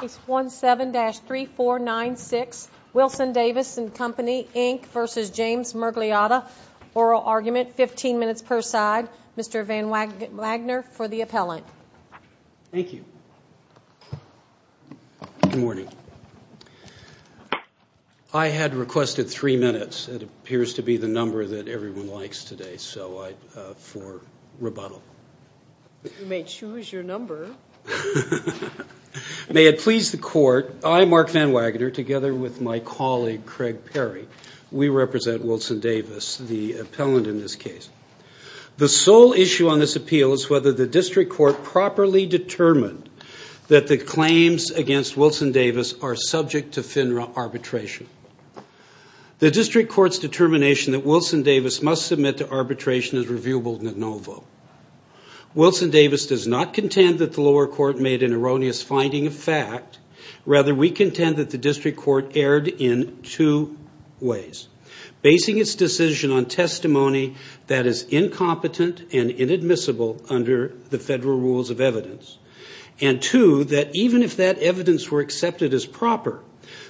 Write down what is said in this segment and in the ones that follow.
Case 17-3496, Wilson-Davis & Co Inc v. James Mirgliotta. Oral argument, 15 minutes per side. Mr. Van Wagner for the appellant. Thank you. Good morning. I had requested three minutes. It appears to be the number that everyone likes today, so I, for rebuttal. You may choose your number. May it please the court, I, Mark Van Wagner, together with my colleague Craig Perry, we represent Wilson-Davis, the appellant in this case. The sole issue on this appeal is whether the district court properly determined that the claims against Wilson-Davis are subject to FINRA arbitration. The district court's determination that Wilson-Davis must submit to arbitration is reviewable de novo. Wilson-Davis does not contend that the lower court made an erroneous finding of fact. Rather, we contend that the district court erred in two ways. Basing its decision on testimony that is incompetent and inadmissible under the federal rules of evidence. And two, that even if that evidence were accepted as proper,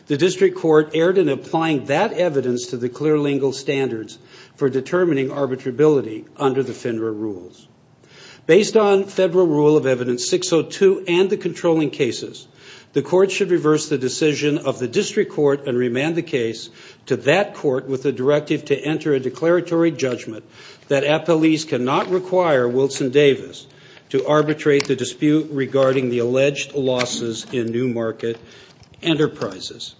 the district court erred in applying that evidence to the clear lingual standards for determining arbitrability under the FINRA rules. Based on federal rule of evidence 602 and the controlling cases, the court should reverse the decision of the district court and remand the case to that court with the directive to enter a declaratory judgment that appellees cannot require Wilson-Davis to arbitrate the dispute. Regarding the alleged losses in new market enterprises.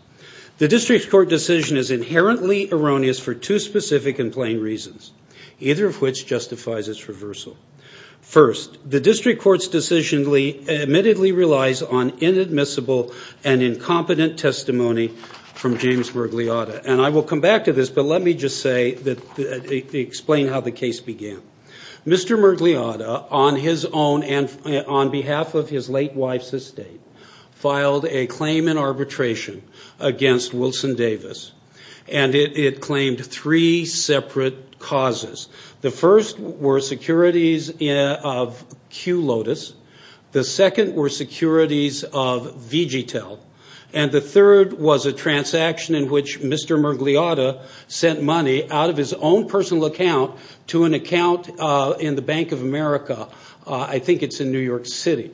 The district court decision is inherently erroneous for two specific and plain reasons. Either of which justifies its reversal. First, the district court's decision admittedly relies on inadmissible and incompetent testimony from James Murgliata. And I will come back to this, but let me just say, explain how the case began. Mr. Murgliata, on his own and on behalf of his late wife's estate, filed a claim in arbitration against Wilson-Davis. And it claimed three separate causes. The first were securities of Q Lotus. The second were securities of VGTEL. And the third was a transaction in which Mr. Murgliata sent money out of his own personal account to an account in the Bank of America. I think it's in New York City.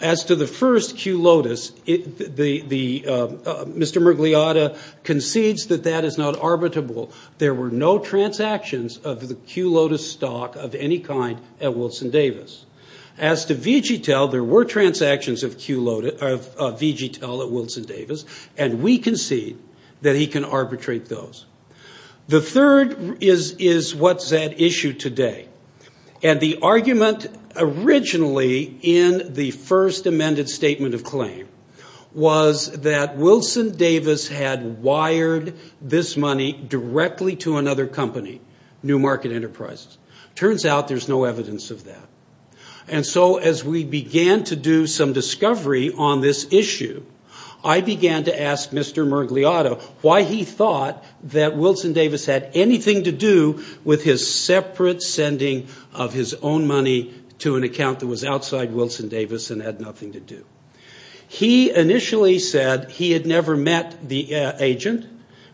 As to the first Q Lotus, Mr. Murgliata concedes that that is not arbitrable. There were no transactions of the Q Lotus stock of any kind at Wilson-Davis. As to VGTEL, there were transactions of VGTEL at Wilson-Davis. And we concede that he can arbitrate those. The third is what's at issue today. And the argument originally in the first amended statement of claim was that Wilson-Davis had wired this money directly to another company, New Market Enterprises. Turns out there's no evidence of that. And so as we began to do some discovery on this issue, I began to ask Mr. Murgliata why he thought that Wilson-Davis had anything to do with his separate sending of his own money to an account that was outside Wilson-Davis and had nothing to do. He initially said he had never met the agent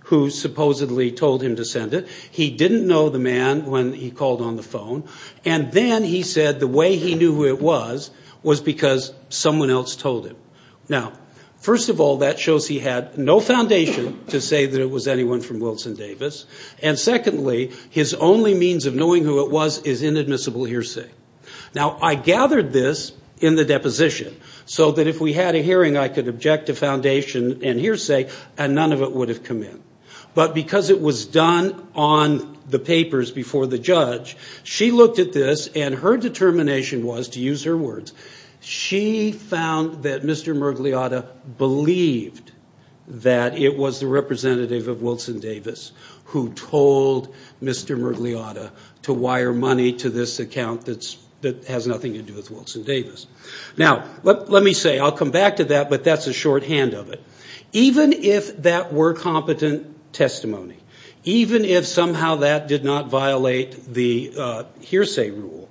who supposedly told him to send it. He didn't know the man when he called on the phone. And then he said the way he knew who it was was because someone else told him. Now, first of all, that shows he had no foundation to say that it was anyone from Wilson-Davis. And secondly, his only means of knowing who it was is inadmissible hearsay. Now, I gathered this in the deposition so that if we had a hearing, I could object to foundation and hearsay and none of it would have come in. But because it was done on the papers before the judge, she looked at this and her determination was, to use her words, she found that Mr. Murgliata believed that it was the representative of Wilson-Davis who told Mr. Murgliata to wire money to this account that has nothing to do with Wilson-Davis. Now, let me say, I'll come back to that, but that's a shorthand of it. Even if that were competent testimony, even if somehow that did not violate the hearsay rule,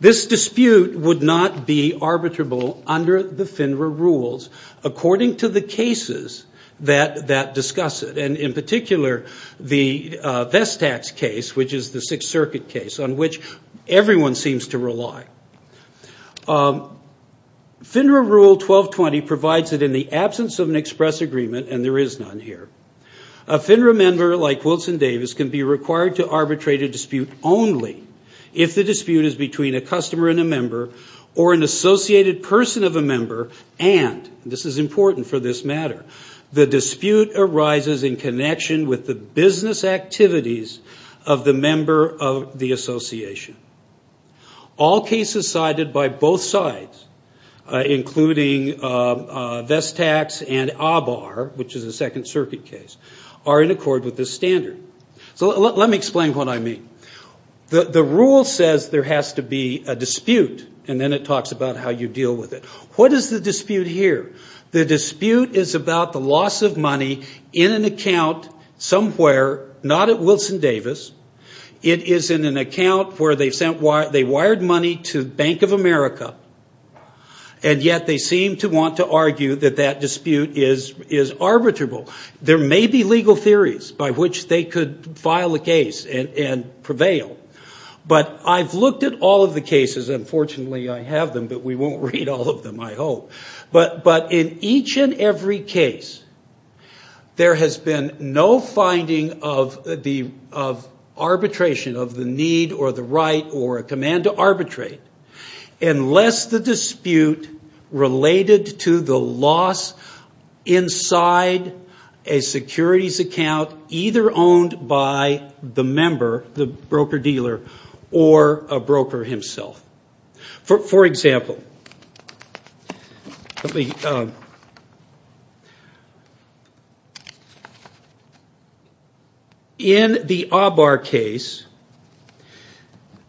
this dispute would not be arbitrable under the FINRA rules according to the cases that discuss it. And in particular, the Vestax case, which is the Sixth Circuit case on which everyone seems to rely. FINRA Rule 1220 provides that in the absence of an express agreement, and there is none here, a FINRA member like Wilson-Davis can be required to arbitrate a dispute only if the dispute is between a customer and a member or an associated person of a member and, this is important for this matter, the dispute arises in connection with the business activities of the member of the association. All cases cited by both sides, including Vestax and ABAR, which is a Second Circuit case, are in accord with this standard. So let me explain what I mean. The rule says there has to be a dispute, and then it talks about how you deal with it. What is the dispute here? The dispute is about the loss of money in an account somewhere, not at Wilson-Davis. It is in an account where they wired money to Bank of America, and yet they seem to want to argue that that dispute is arbitrable. There may be legal theories by which they could file a case and prevail, but I've looked at all of the cases. Unfortunately, I have them, but we won't read all of them, I hope. But in each and every case, there has been no finding of arbitration, of the need or the right or a command to arbitrate, unless the dispute related to the loss inside a securities account either owned by the member, the broker-dealer, or a broker himself. For example, in the ABAR case,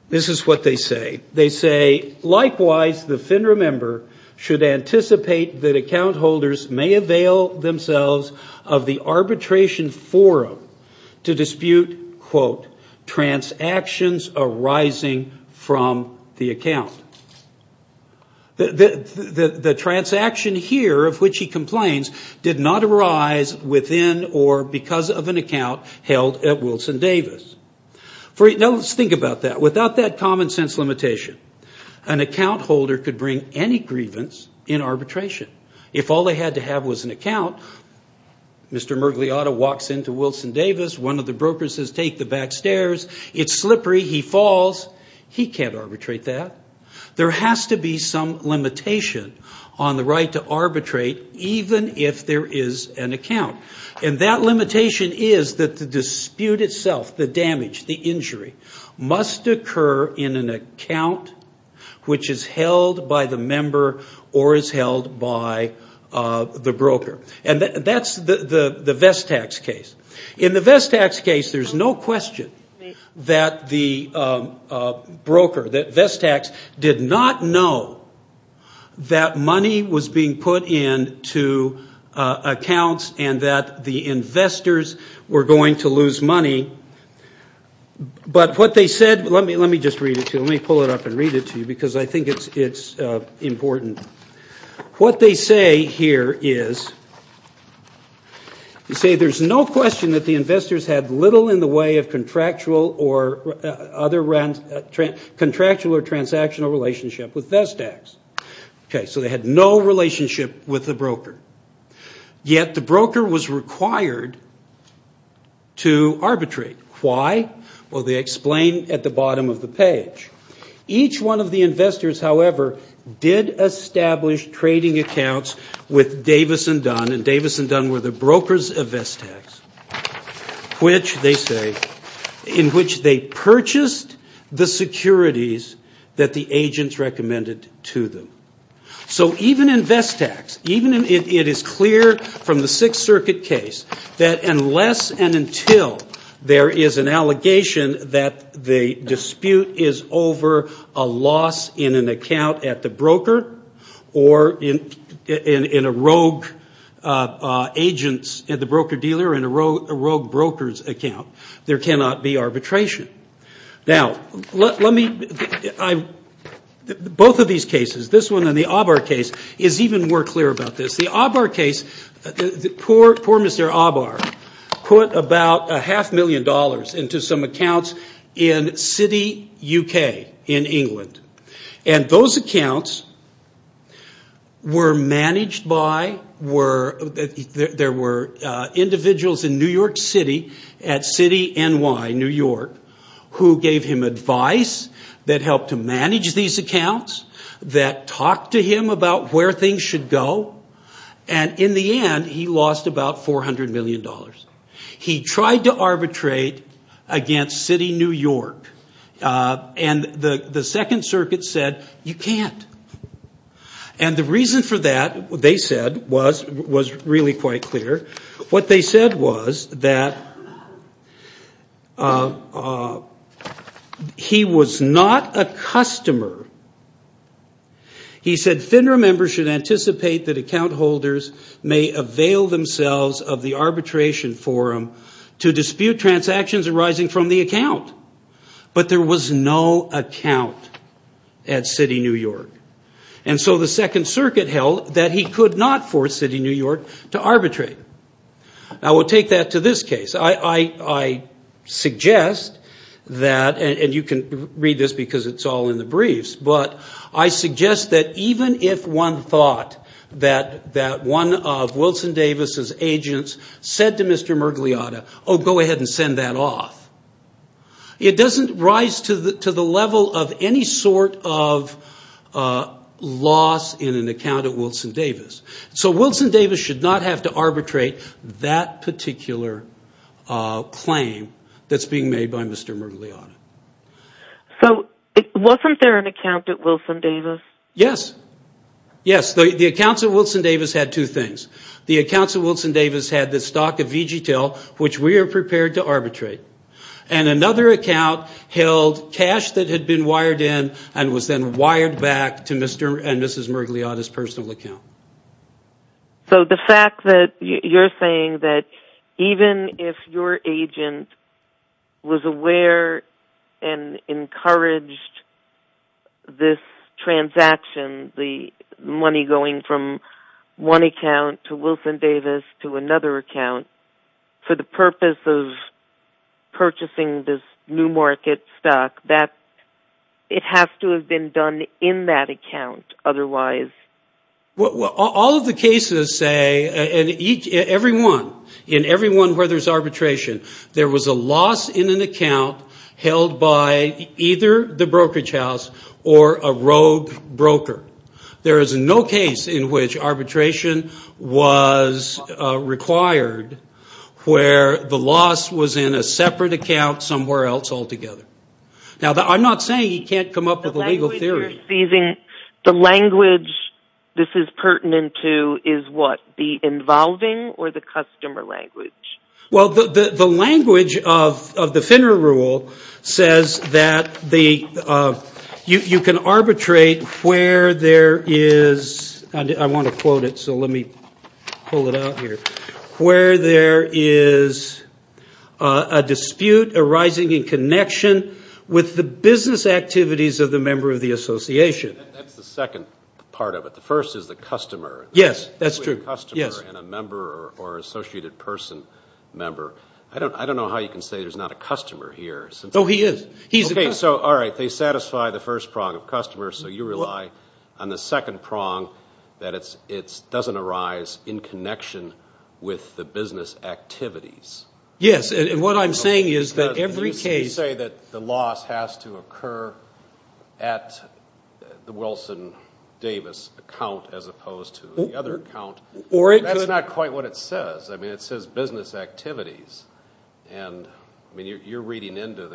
this is what they say. They say, likewise, the FINRA member should anticipate that account holders may avail themselves of the arbitration forum to dispute, quote, transactions arising from the account. The transaction here, of which he complains, did not arise within or because of an account held at Wilson-Davis. Now, let's think about that. Without that common-sense limitation, an account holder could bring any grievance in arbitration. If all they had to have was an account, Mr. Murgliotta walks into Wilson-Davis, one of the brokers says, take the back stairs, it's slippery, he falls, he can't arbitrate that. There has to be some limitation on the right to arbitrate, even if there is an account. And that limitation is that the dispute itself, the damage, the injury, must occur in an account which is held by the member or is held by the broker. And that's the Vestax case. In the Vestax case, there's no question that the broker, that Vestax did not know that money was being put into accounts and that the investors were going to lose money. But what they said, let me just read it to you. Let me pull it up and read it to you because I think it's important. What they say here is, they say there's no question that the investors had little in the way of contractual or transactional relationship with Vestax. Okay, so they had no relationship with the broker. Yet the broker was required to arbitrate. Why? Well, they explain at the bottom of the page. Each one of the investors, however, did establish trading accounts with Davis and Dunn. And Davis and Dunn were the brokers of Vestax, which they say, in which they purchased the securities that the agents recommended to them. So even in Vestax, it is clear from the Sixth Circuit case that unless and until there is an allegation that the dispute is over a loss in an account at the broker or in a rogue agent's, at the broker dealer, in a rogue broker's account, there cannot be arbitration. Now, both of these cases, this one and the Aabar case, is even more clear about this. The Aabar case, poor Mr. Aabar put about a half million dollars into some accounts in City, UK, in England. And those accounts were managed by, there were individuals in New York City at City, NY, New York, who gave him advice that helped to manage these accounts, that talked to him about where things should go. And in the end, he lost about $400 million. He tried to arbitrate against City, New York. And the Second Circuit said, you can't. And the reason for that, they said, was really quite clear. What they said was that he was not a customer. He said FINRA members should anticipate that account holders may avail themselves of the arbitration forum to dispute transactions arising from the account. But there was no account at City, New York. And so the Second Circuit held that he could not force City, New York to arbitrate. Now, we'll take that to this case. I suggest that, and you can read this because it's all in the briefs, but I suggest that even if one thought that one of Wilson Davis's agents said to Mr. Murgliata, oh, go ahead and send that off, it doesn't rise to the level of any sort of loss in an account of Wilson Davis. So Wilson Davis should not have to arbitrate that particular claim that's being made by Mr. Murgliata. So wasn't there an account at Wilson Davis? Yes. Yes. The accounts at Wilson Davis had two things. The accounts at Wilson Davis had the stock of VGTL, which we are prepared to arbitrate. And another account held cash that had been wired in and was then wired back to Mr. and Mrs. Murgliata's personal account. So the fact that you're saying that even if your agent was aware and encouraged this transaction, the money going from one account to Wilson Davis to another account, for the purpose of purchasing this new market stock, that it has to have been done in that account otherwise. Well, all of the cases say, and every one, in every one where there's arbitration, there was a loss in an account held by either the brokerage house or a rogue broker. There is no case in which arbitration was required where the loss was in a separate account somewhere else altogether. Now, I'm not saying you can't come up with a legal theory. The language this is pertinent to is what? The involving or the customer language? Well, the language of the FINRA rule says that you can arbitrate where there is, and I want to quote it, so let me pull it out here, where there is a dispute arising in connection with the business activities of the member of the association. That's the second part of it. The first is the customer. Yes, that's true. A customer and a member or associated person member. I don't know how you can say there's not a customer here. Oh, he is. He's a customer. Okay, so all right, they satisfy the first prong of customer, so you rely on the second prong that it doesn't arise in connection with the business activities. Yes, and what I'm saying is that every case – You say that the loss has to occur at the Wilson Davis account as opposed to the other account. That's not quite what it says. I mean, it says business activities, and, I mean, you're reading into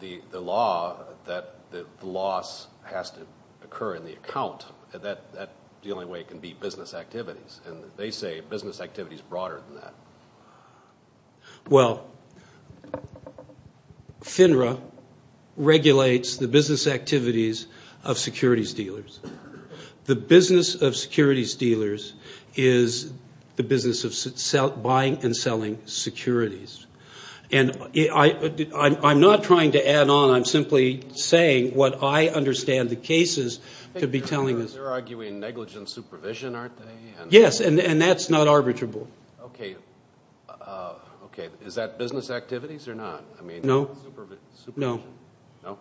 the law that the loss has to occur in the account. That's the only way it can be business activities, and they say business activity is broader than that. Well, FINRA regulates the business activities of securities dealers. The business of securities dealers is the business of buying and selling securities, and I'm not trying to add on. I'm simply saying what I understand the cases to be telling us. They're arguing negligent supervision, aren't they? Yes, and that's not arbitrable. Okay, is that business activities or not? No. Supervision? No. No?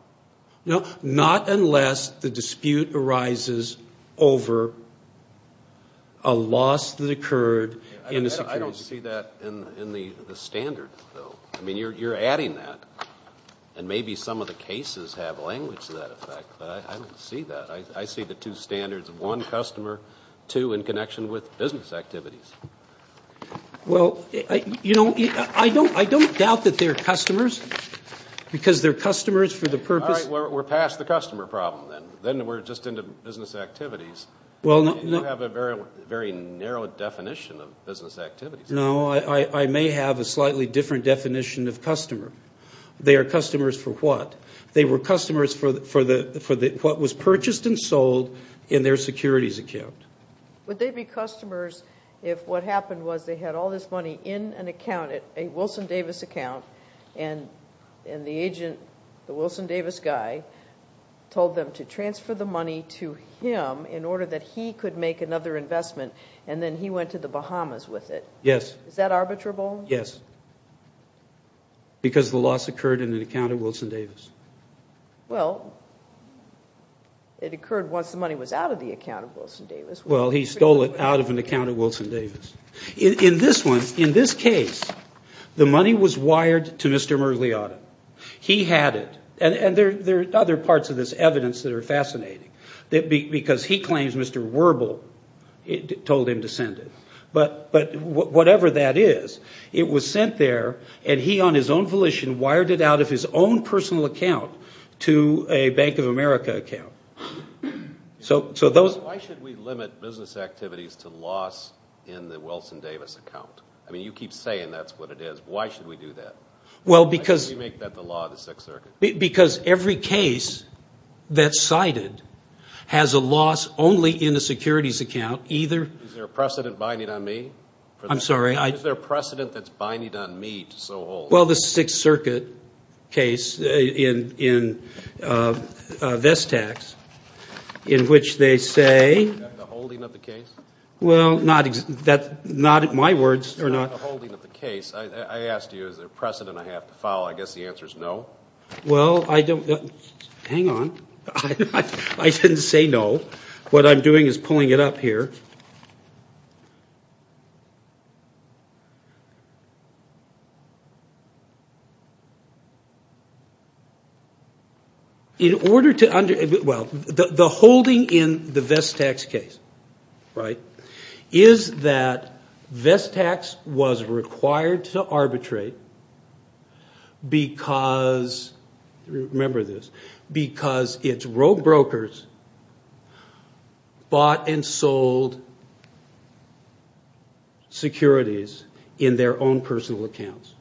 No, not unless the dispute arises over a loss that occurred in the securities. I don't see that in the standards, though. I mean, you're adding that, and maybe some of the cases have language to that effect, but I don't see that. I see the two standards of one, customer, two, in connection with business activities. Well, you know, I don't doubt that they're customers because they're customers for the purpose. All right, we're past the customer problem then. Then we're just into business activities. You have a very narrow definition of business activities. No, I may have a slightly different definition of customer. They are customers for what? They were customers for what was purchased and sold in their securities account. Would they be customers if what happened was they had all this money in an account, a Wilson Davis account, and the agent, the Wilson Davis guy, told them to transfer the money to him in order that he could make another investment, and then he went to the Bahamas with it? Yes. Is that arbitrable? Yes, because the loss occurred in an account of Wilson Davis. Well, it occurred once the money was out of the account of Wilson Davis. Well, he stole it out of an account of Wilson Davis. In this one, in this case, the money was wired to Mr. Merliotta. He had it, and there are other parts of this evidence that are fascinating, because he claims Mr. Werbel told him to send it. But whatever that is, it was sent there, and he, on his own volition, wired it out of his own personal account to a Bank of America account. Why should we limit business activities to loss in the Wilson Davis account? I mean, you keep saying that's what it is. Why should we do that? Why should we make that the law of the Sixth Circuit? Because every case that's cited has a loss only in the securities account. Is there a precedent binding on me? I'm sorry? Is there a precedent that's binding on me to so hold? Well, the Sixth Circuit case in Vestax, in which they say... Is that the holding of the case? Well, not in my words... It's not the holding of the case. I asked you, is there a precedent I have to follow? I guess the answer is no. Well, I don't... Hang on. I didn't say no. What I'm doing is pulling it up here. In order to... Well, the holding in the Vestax case is that Vestax was required to arbitrate because... Remember this. Because its rogue brokers bought and sold securities in their own personal accounts.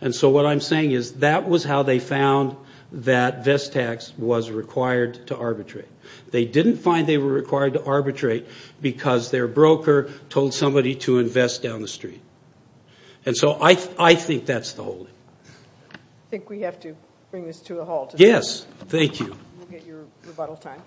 And so what I'm saying is that was how they found that Vestax was required to arbitrate. They didn't find they were required to arbitrate because their broker told somebody to invest down the street. And so I think that's the holding. I think we have to bring this to a halt. Yes. Thank you. We'll get your rebuttal time.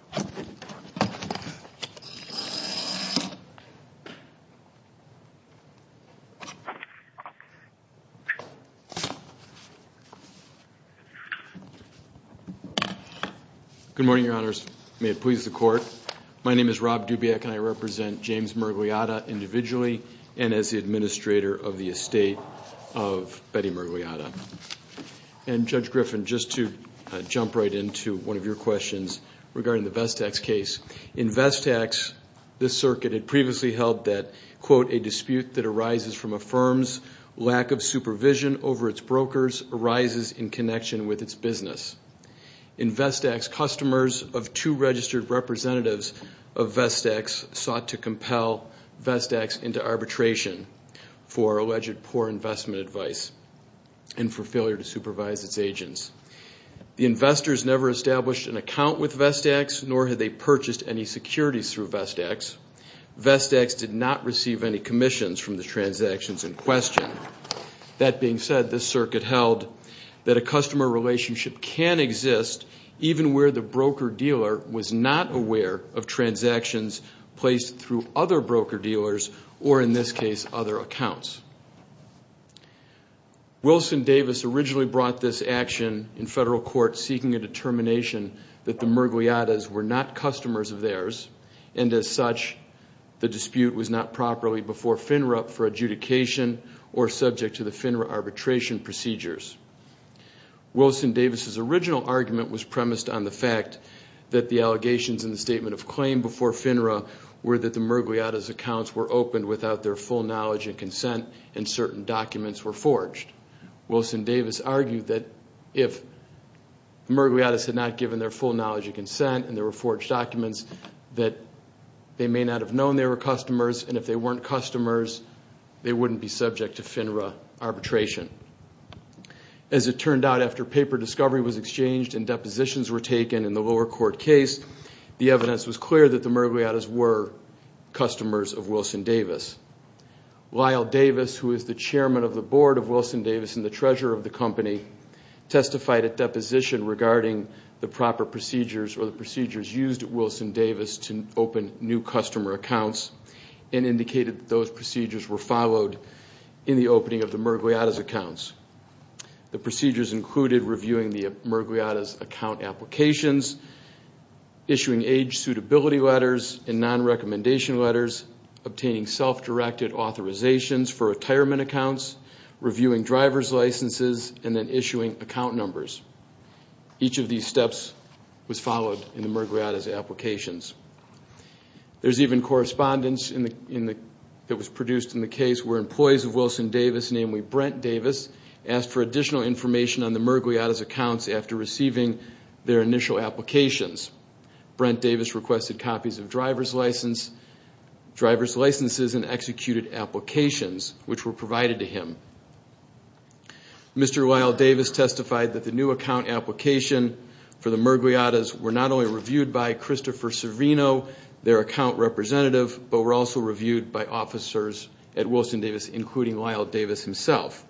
Good morning, Your Honors. May it please the Court. My name is Rob Dubiak and I represent James Murgliata individually and as the administrator of the estate of Betty Murgliata. And Judge Griffin, just to jump right into one of your questions regarding the Vestax case. In Vestax, this circuit had previously held that, quote, a dispute that arises from a firm's lack of supervision over its brokers arises in connection with its business. In Vestax, customers of two registered representatives of Vestax sought to compel Vestax into arbitration for alleged poor investment advice. And for failure to supervise its agents. The investors never established an account with Vestax, nor had they purchased any securities through Vestax. Vestax did not receive any commissions from the transactions in question. That being said, this circuit held that a customer relationship can exist even where the broker-dealer was not aware of transactions placed through other broker-dealers or, in this case, other accounts. Wilson Davis originally brought this action in federal court seeking a determination that the Murgliatas were not customers of theirs. And as such, the dispute was not properly before FINRA for adjudication or subject to the FINRA arbitration procedures. Wilson Davis' original argument was premised on the fact that the allegations in the statement of claim before FINRA were that the Murgliatas' accounts were opened without their full knowledge and consent, and certain documents were forged. Wilson Davis argued that if the Murgliatas had not given their full knowledge and consent, and there were forged documents, that they may not have known they were customers, and if they weren't customers, they wouldn't be subject to FINRA arbitration. As it turned out, after paper discovery was exchanged and depositions were taken in the lower court case, the evidence was clear that the Murgliatas were customers of Wilson Davis. Lyle Davis, who is the chairman of the board of Wilson Davis and the treasurer of the company, testified at deposition regarding the proper procedures or the procedures used at Wilson Davis to open new customer accounts. He indicated that those procedures were followed in the opening of the Murgliatas' accounts. The procedures included reviewing the Murgliatas' account applications, issuing age suitability letters and non-recommendation letters, obtaining self-directed authorizations for retirement accounts, reviewing driver's licenses, and then issuing account numbers. Each of these steps was followed in the Murgliatas' applications. There's even correspondence that was produced in the case where employees of Wilson Davis, namely Brent Davis, asked for additional information on the Murgliatas' accounts after receiving their initial applications. Brent Davis requested copies of driver's licenses and executed applications which were provided to him. Mr. Lyle Davis testified that the new account application for the Murgliatas were not only reviewed by Christopher Servino, their account representative, but were also reviewed by officers at Wilson Davis, including Lyle Davis himself.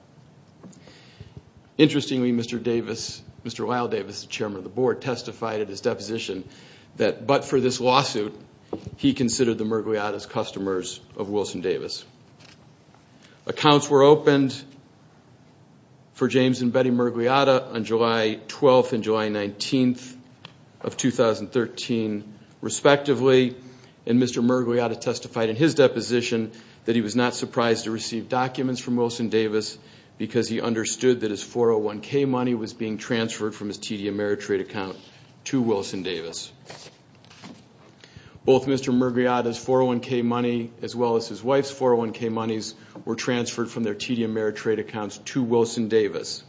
Interestingly, Mr. Davis, Mr. Lyle Davis, the chairman of the board, testified at his deposition that, but for this lawsuit, he considered the Murgliatas customers of Wilson Davis. Accounts were opened for James and Betty Murgliata on July 12th and July 19th of 2013, respectively, and Mr. Murgliata testified in his deposition that he was not surprised to receive documents from Wilson Davis because he understood that his 401k money was being transferred from his TD Ameritrade account to Wilson Davis. Both Mr. Murgliata's 401k money as well as his wife's 401k monies were transferred from their TD Ameritrade accounts to Wilson Davis.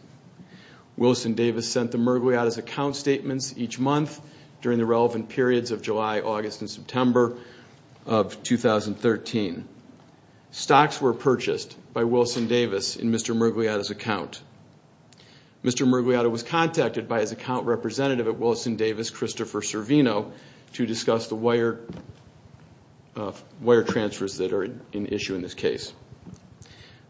Wilson Davis sent the Murgliata's account statements each month during the relevant periods of July, August, and September of 2013. Stocks were purchased by Wilson Davis in Mr. Murgliata's account. Mr. Murgliata was contacted by his account representative at Wilson Davis, Christopher Servino, to discuss the wire transfers that are in issue in this case.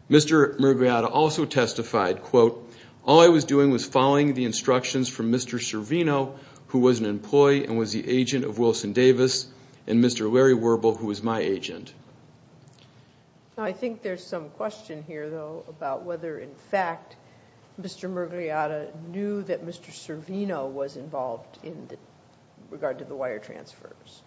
Mr. Murgliata also testified, quote, All I was doing was following the instructions from Mr. Servino, who was an employee and was the agent of Wilson Davis, and Mr. Larry Werbel, who was my agent. I think there's some question here, though, about whether, in fact, Mr. Murgliata knew that Mr. Servino was involved in regard to the wire transfers.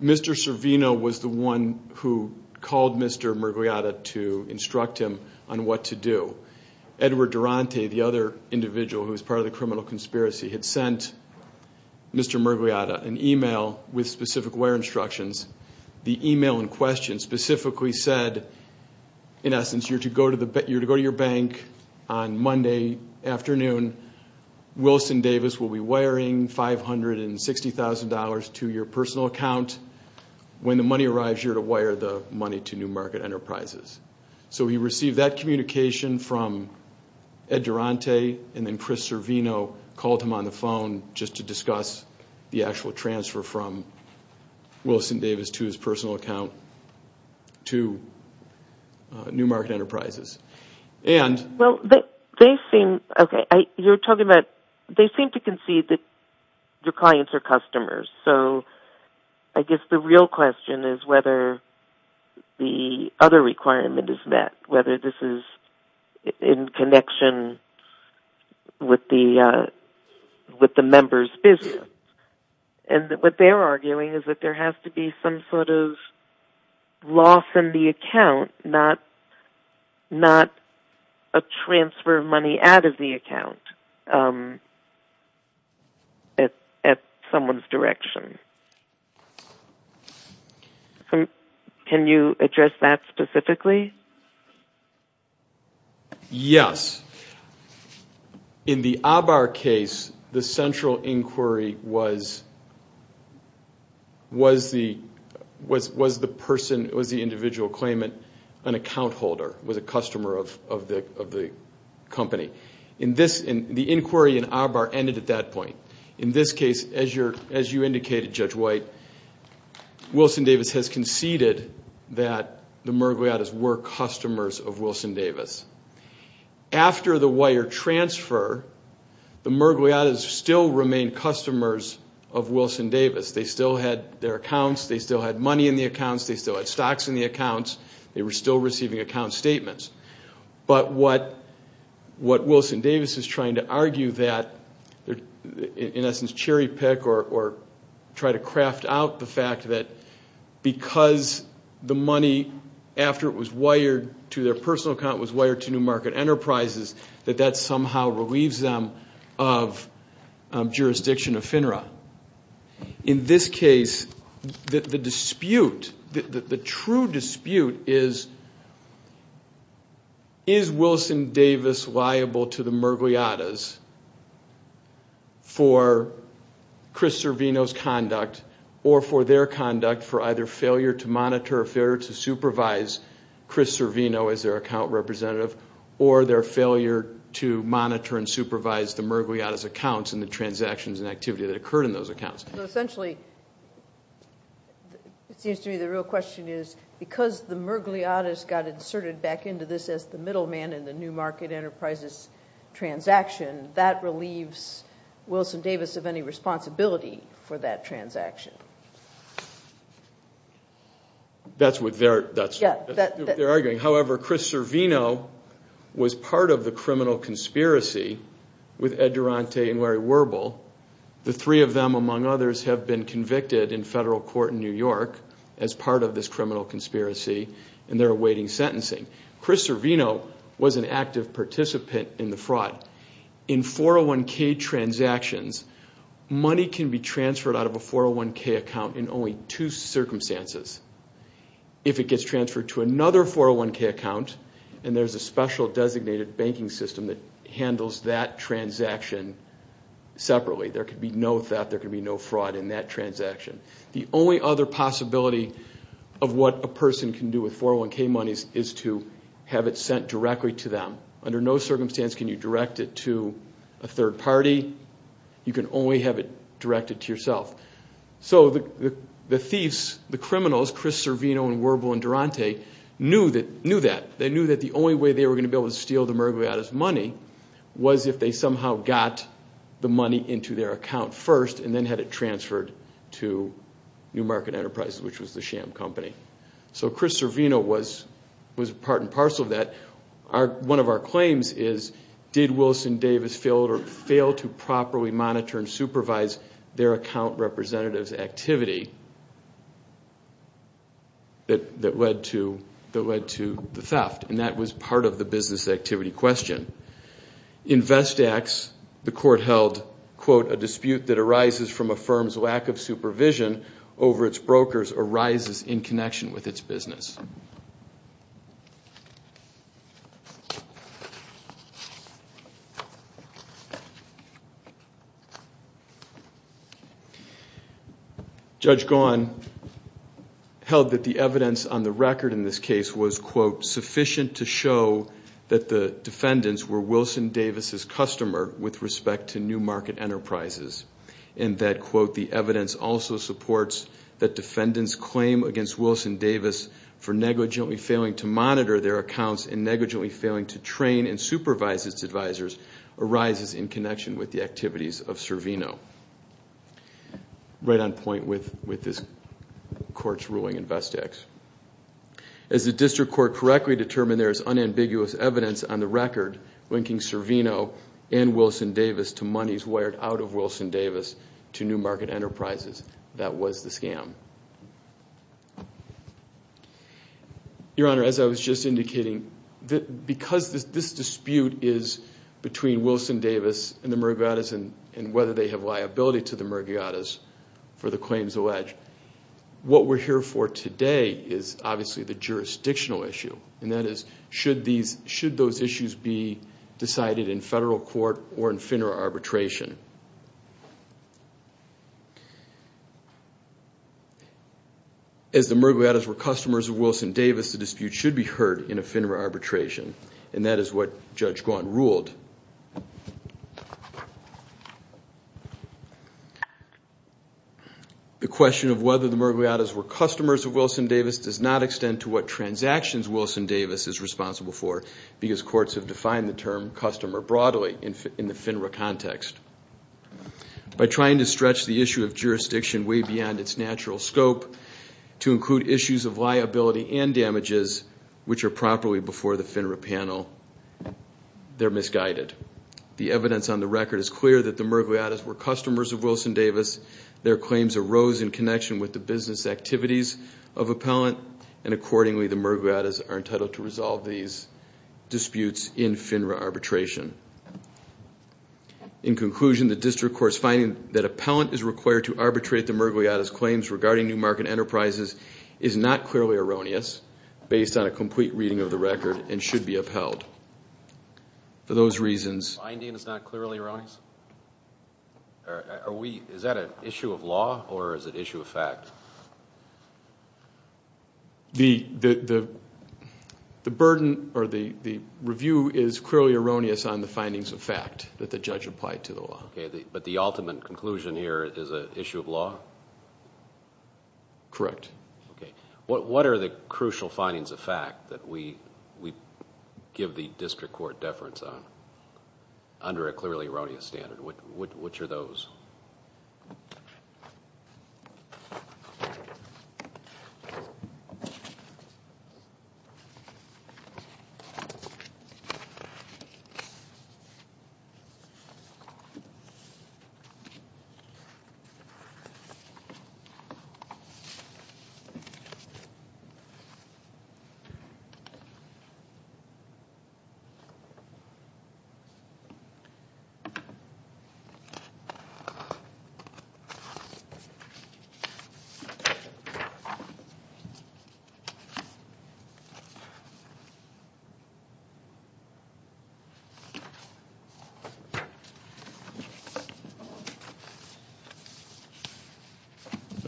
Mr. Servino was the one who called Mr. Murgliata to instruct him on what to do. Edward Durante, the other individual who was part of the criminal conspiracy, had sent Mr. Murgliata an email with specific wire instructions. The email in question specifically said, in essence, You're to go to your bank on Monday afternoon. Wilson Davis will be wiring $560,000 to your personal account. When the money arrives, you're to wire the money to New Market Enterprises. So he received that communication from Edward Durante, and then Christopher Servino called him on the phone just to discuss the actual transfer from Wilson Davis to his personal account to New Market Enterprises. Well, they seem to concede that your clients are customers. So I guess the real question is whether the other requirement is met, whether this is in connection with the members' business. And what they're arguing is that there has to be some sort of loss in the account, not a transfer of money out of the account at someone's direction. Can you address that specifically? Yes. In the Abar case, the central inquiry was the individual claiming an account holder, was a customer of the company. The inquiry in Abar ended at that point. In this case, as you indicated, Judge White, Wilson Davis has conceded that the Mergoliatas were customers of Wilson Davis. After the wire transfer, the Mergoliatas still remained customers of Wilson Davis. They still had their accounts. They still had money in the accounts. They still had stocks in the accounts. They were still receiving account statements. But what Wilson Davis is trying to argue, in essence cherry pick or try to craft out the fact that because the money, after it was wired to their personal account, was wired to New Market Enterprises, that that somehow relieves them of jurisdiction of FINRA. In this case, the dispute, the true dispute is, is Wilson Davis liable to the Mergoliatas for Chris Servino's conduct or for their conduct for either failure to monitor or failure to supervise Chris Servino as their account representative or their failure to monitor and supervise the Mergoliatas' accounts and the transactions and activity that occurred in those accounts? Essentially, it seems to me the real question is, because the Mergoliatas got inserted back into this as the middle man in the New Market Enterprises' transaction, that relieves Wilson Davis of any responsibility for that transaction. That's what they're arguing. However, Chris Servino was part of the criminal conspiracy with Ed Durante and Larry Werbel. The three of them, among others, have been convicted in federal court in New York as part of this criminal conspiracy and they're awaiting sentencing. Chris Servino was an active participant in the fraud. In 401k transactions, money can be transferred out of a 401k account in only two circumstances. If it gets transferred to another 401k account and there's a special designated banking system that handles that transaction separately, there could be no theft, there could be no fraud in that transaction. The only other possibility of what a person can do with 401k money is to have it sent directly to them. Under no circumstance can you direct it to a third party. You can only have it directed to yourself. So the thieves, the criminals, Chris Servino and Werbel and Durante, knew that. They knew that the only way they were going to be able to steal the Mergoliatas' money was if they somehow got the money into their account first and then had it transferred to New Market Enterprises, which was the sham company. So Chris Servino was part and parcel of that. One of our claims is, did Wilson Davis fail to properly monitor and supervise their account representative's activity that led to the theft? And that was part of the business activity question. In Vestax, the court held, quote, a dispute that arises from a firm's lack of supervision over its brokers arises in connection with its business. Judge Gahan held that the evidence on the record in this case was, quote, that the defendants were Wilson Davis' customer with respect to New Market Enterprises and that, quote, the evidence also supports that defendants' claim against Wilson Davis for negligently failing to monitor their accounts and negligently failing to train and supervise its advisors arises in connection with the activities of Servino. Right on point with this court's ruling in Vestax. As the district court correctly determined, there is unambiguous evidence on the record linking Servino and Wilson Davis to monies wired out of Wilson Davis to New Market Enterprises. That was the scam. Your Honor, as I was just indicating, because this dispute is between Wilson Davis and the Murgiatas and whether they have liability to the Murgiatas for the claims alleged, what we're here for today is obviously the jurisdictional issue, and that is should those issues be decided in federal court or in FINRA arbitration. As the Murgiatas were customers of Wilson Davis, the dispute should be heard in a FINRA arbitration, and that is what Judge Gahan ruled. The question of whether the Murgiatas were customers of Wilson Davis does not extend to what transactions Wilson Davis is responsible for because courts have defined the term customer broadly in the FINRA context. By trying to stretch the issue of jurisdiction way beyond its natural scope to include issues of liability and damages which are properly before the FINRA panel, they're misguided. The evidence on the record is clear that the Murgiatas were customers of Wilson Davis. Their claims arose in connection with the business activities of appellant, and accordingly the Murgiatas are entitled to resolve these disputes in FINRA arbitration. In conclusion, the district court's finding that appellant is required to arbitrate the Murgiatas' claims regarding New Market Enterprises is not clearly erroneous based on a complete reading of the record and should be upheld. For those reasons... The finding is not clearly erroneous? Is that an issue of law or is it an issue of fact? The review is clearly erroneous on the findings of fact that the judge applied to the law. Okay, but the ultimate conclusion here is an issue of law? Correct. What are the crucial findings of fact that we give the district court deference on under a clearly erroneous standard? Which are those?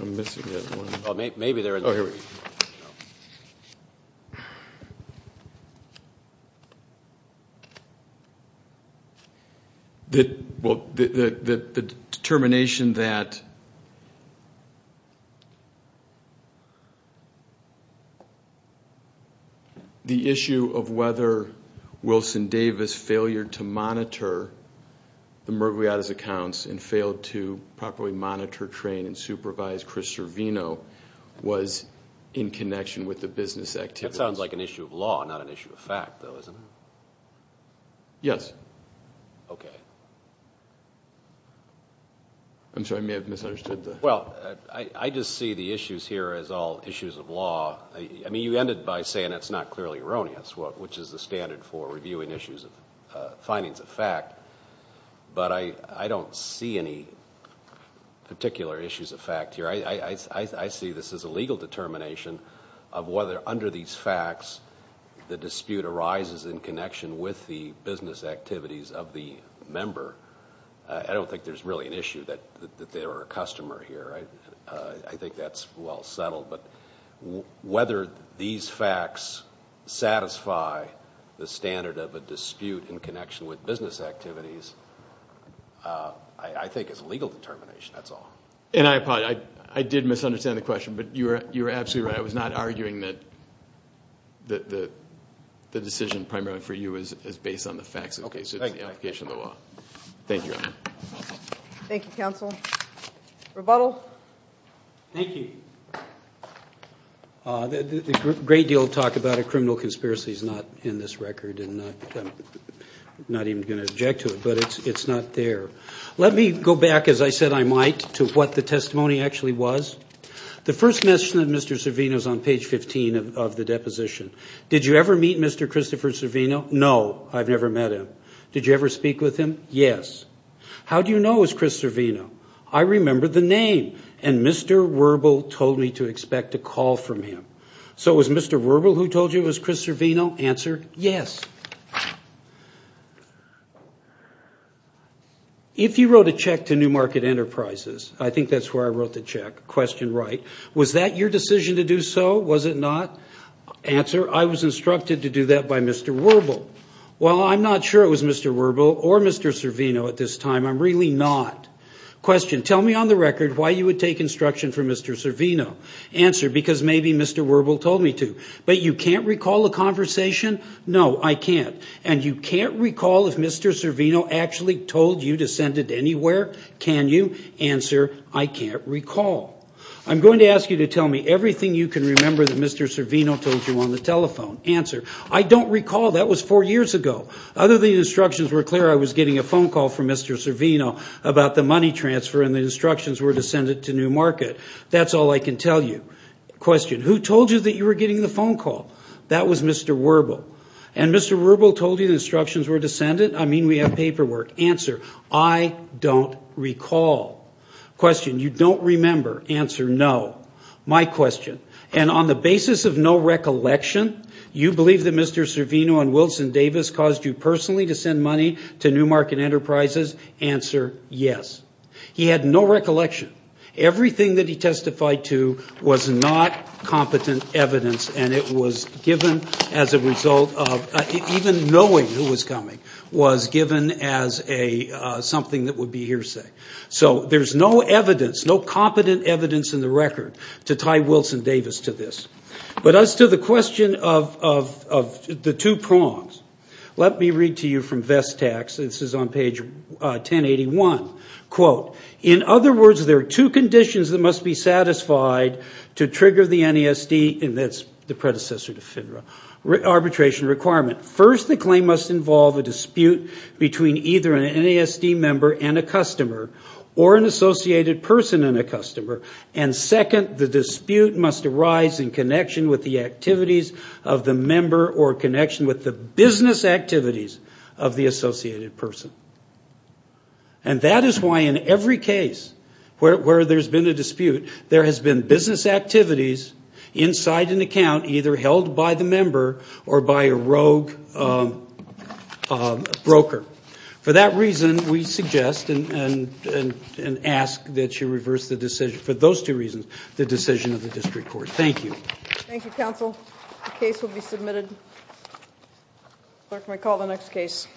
I'm missing that one. The determination that the issue of whether Wilson Davis failed to monitor the Murgiatas' accounts and failed to properly monitor, train, and supervise Chris Servino was in connection with the business activities. That sounds like an issue of law, not an issue of fact, though, isn't it? Yes. Okay. I'm sorry. I may have misunderstood the... Well, I just see the issues here as all issues of law. I mean, you ended by saying it's not clearly erroneous, which is the standard for reviewing issues of findings of fact, but I don't see any particular issues of fact here. I see this as a legal determination of whether under these facts the dispute arises in connection with the business activities of the member. I don't think there's really an issue that they were a customer here. I think that's well settled, but whether these facts satisfy the standard of a dispute in connection with business activities I think is a legal determination. That's all. And I apologize. I did misunderstand the question, but you were absolutely right. I was not arguing that the decision primarily for you is based on the facts of the case. It's the application of the law. Thank you. Thank you, counsel. Rebuttal? Thank you. The great deal of talk about a criminal conspiracy is not in this record, and I'm not even going to object to it, but it's not there. Let me go back, as I said I might, to what the testimony actually was. The first mention of Mr. Servino is on page 15 of the deposition. Did you ever meet Mr. Christopher Servino? No. I've never met him. Did you ever speak with him? Yes. How do you know it's Chris Servino? I remember the name, and Mr. Wuerbel told me to expect a call from him. So it was Mr. Wuerbel who told you it was Chris Servino? Answer, yes. If you wrote a check to New Market Enterprises, I think that's where I wrote the check, question right, was that your decision to do so? Was it not? Answer, I was instructed to do that by Mr. Wuerbel. Well, I'm not sure it was Mr. Wuerbel or Mr. Servino at this time. I'm really not. Question, tell me on the record why you would take instruction from Mr. Servino. Answer, because maybe Mr. Wuerbel told me to. But you can't recall a conversation? No, I can't. And you can't recall if Mr. Servino actually told you to send it anywhere? Can you? Answer, I can't recall. I'm going to ask you to tell me everything you can remember that Mr. Servino told you on the telephone. Answer, I don't recall. That was four years ago. Other than instructions were clear I was getting a phone call from Mr. Servino about the money transfer and the instructions were to send it to New Market. That's all I can tell you. Question, who told you that you were getting the phone call? That was Mr. Wuerbel. And Mr. Wuerbel told you the instructions were to send it? I mean, we have paperwork. Answer, I don't recall. Question, you don't remember? Answer, no. My question, and on the basis of no recollection, you believe that Mr. Servino and Wilson Davis caused you personally to send money to New Market Enterprises? Answer, yes. He had no recollection. Everything that he testified to was not competent evidence and it was given as a result of, even knowing who was coming, was given as something that would be hearsay. So there's no evidence, no competent evidence in the record to tie Wilson Davis to this. But as to the question of the two prongs, let me read to you from Vestax. This is on page 1081. Quote, in other words, there are two conditions that must be satisfied to trigger the NESD, and that's the predecessor to FINRA, arbitration requirement. First, the claim must involve a dispute between either an NESD member and a customer or an associated person and a customer. And second, the dispute must arise in connection with the activities of the member or connection with the business activities of the associated person. And that is why in every case where there's been a dispute, there has been business activities inside an account either held by the member or by a rogue broker. For that reason, we suggest and ask that you reverse the decision, for those two reasons, the decision of the district court. Thank you. Thank you, counsel. The case will be submitted. Clerk, may I call the next case?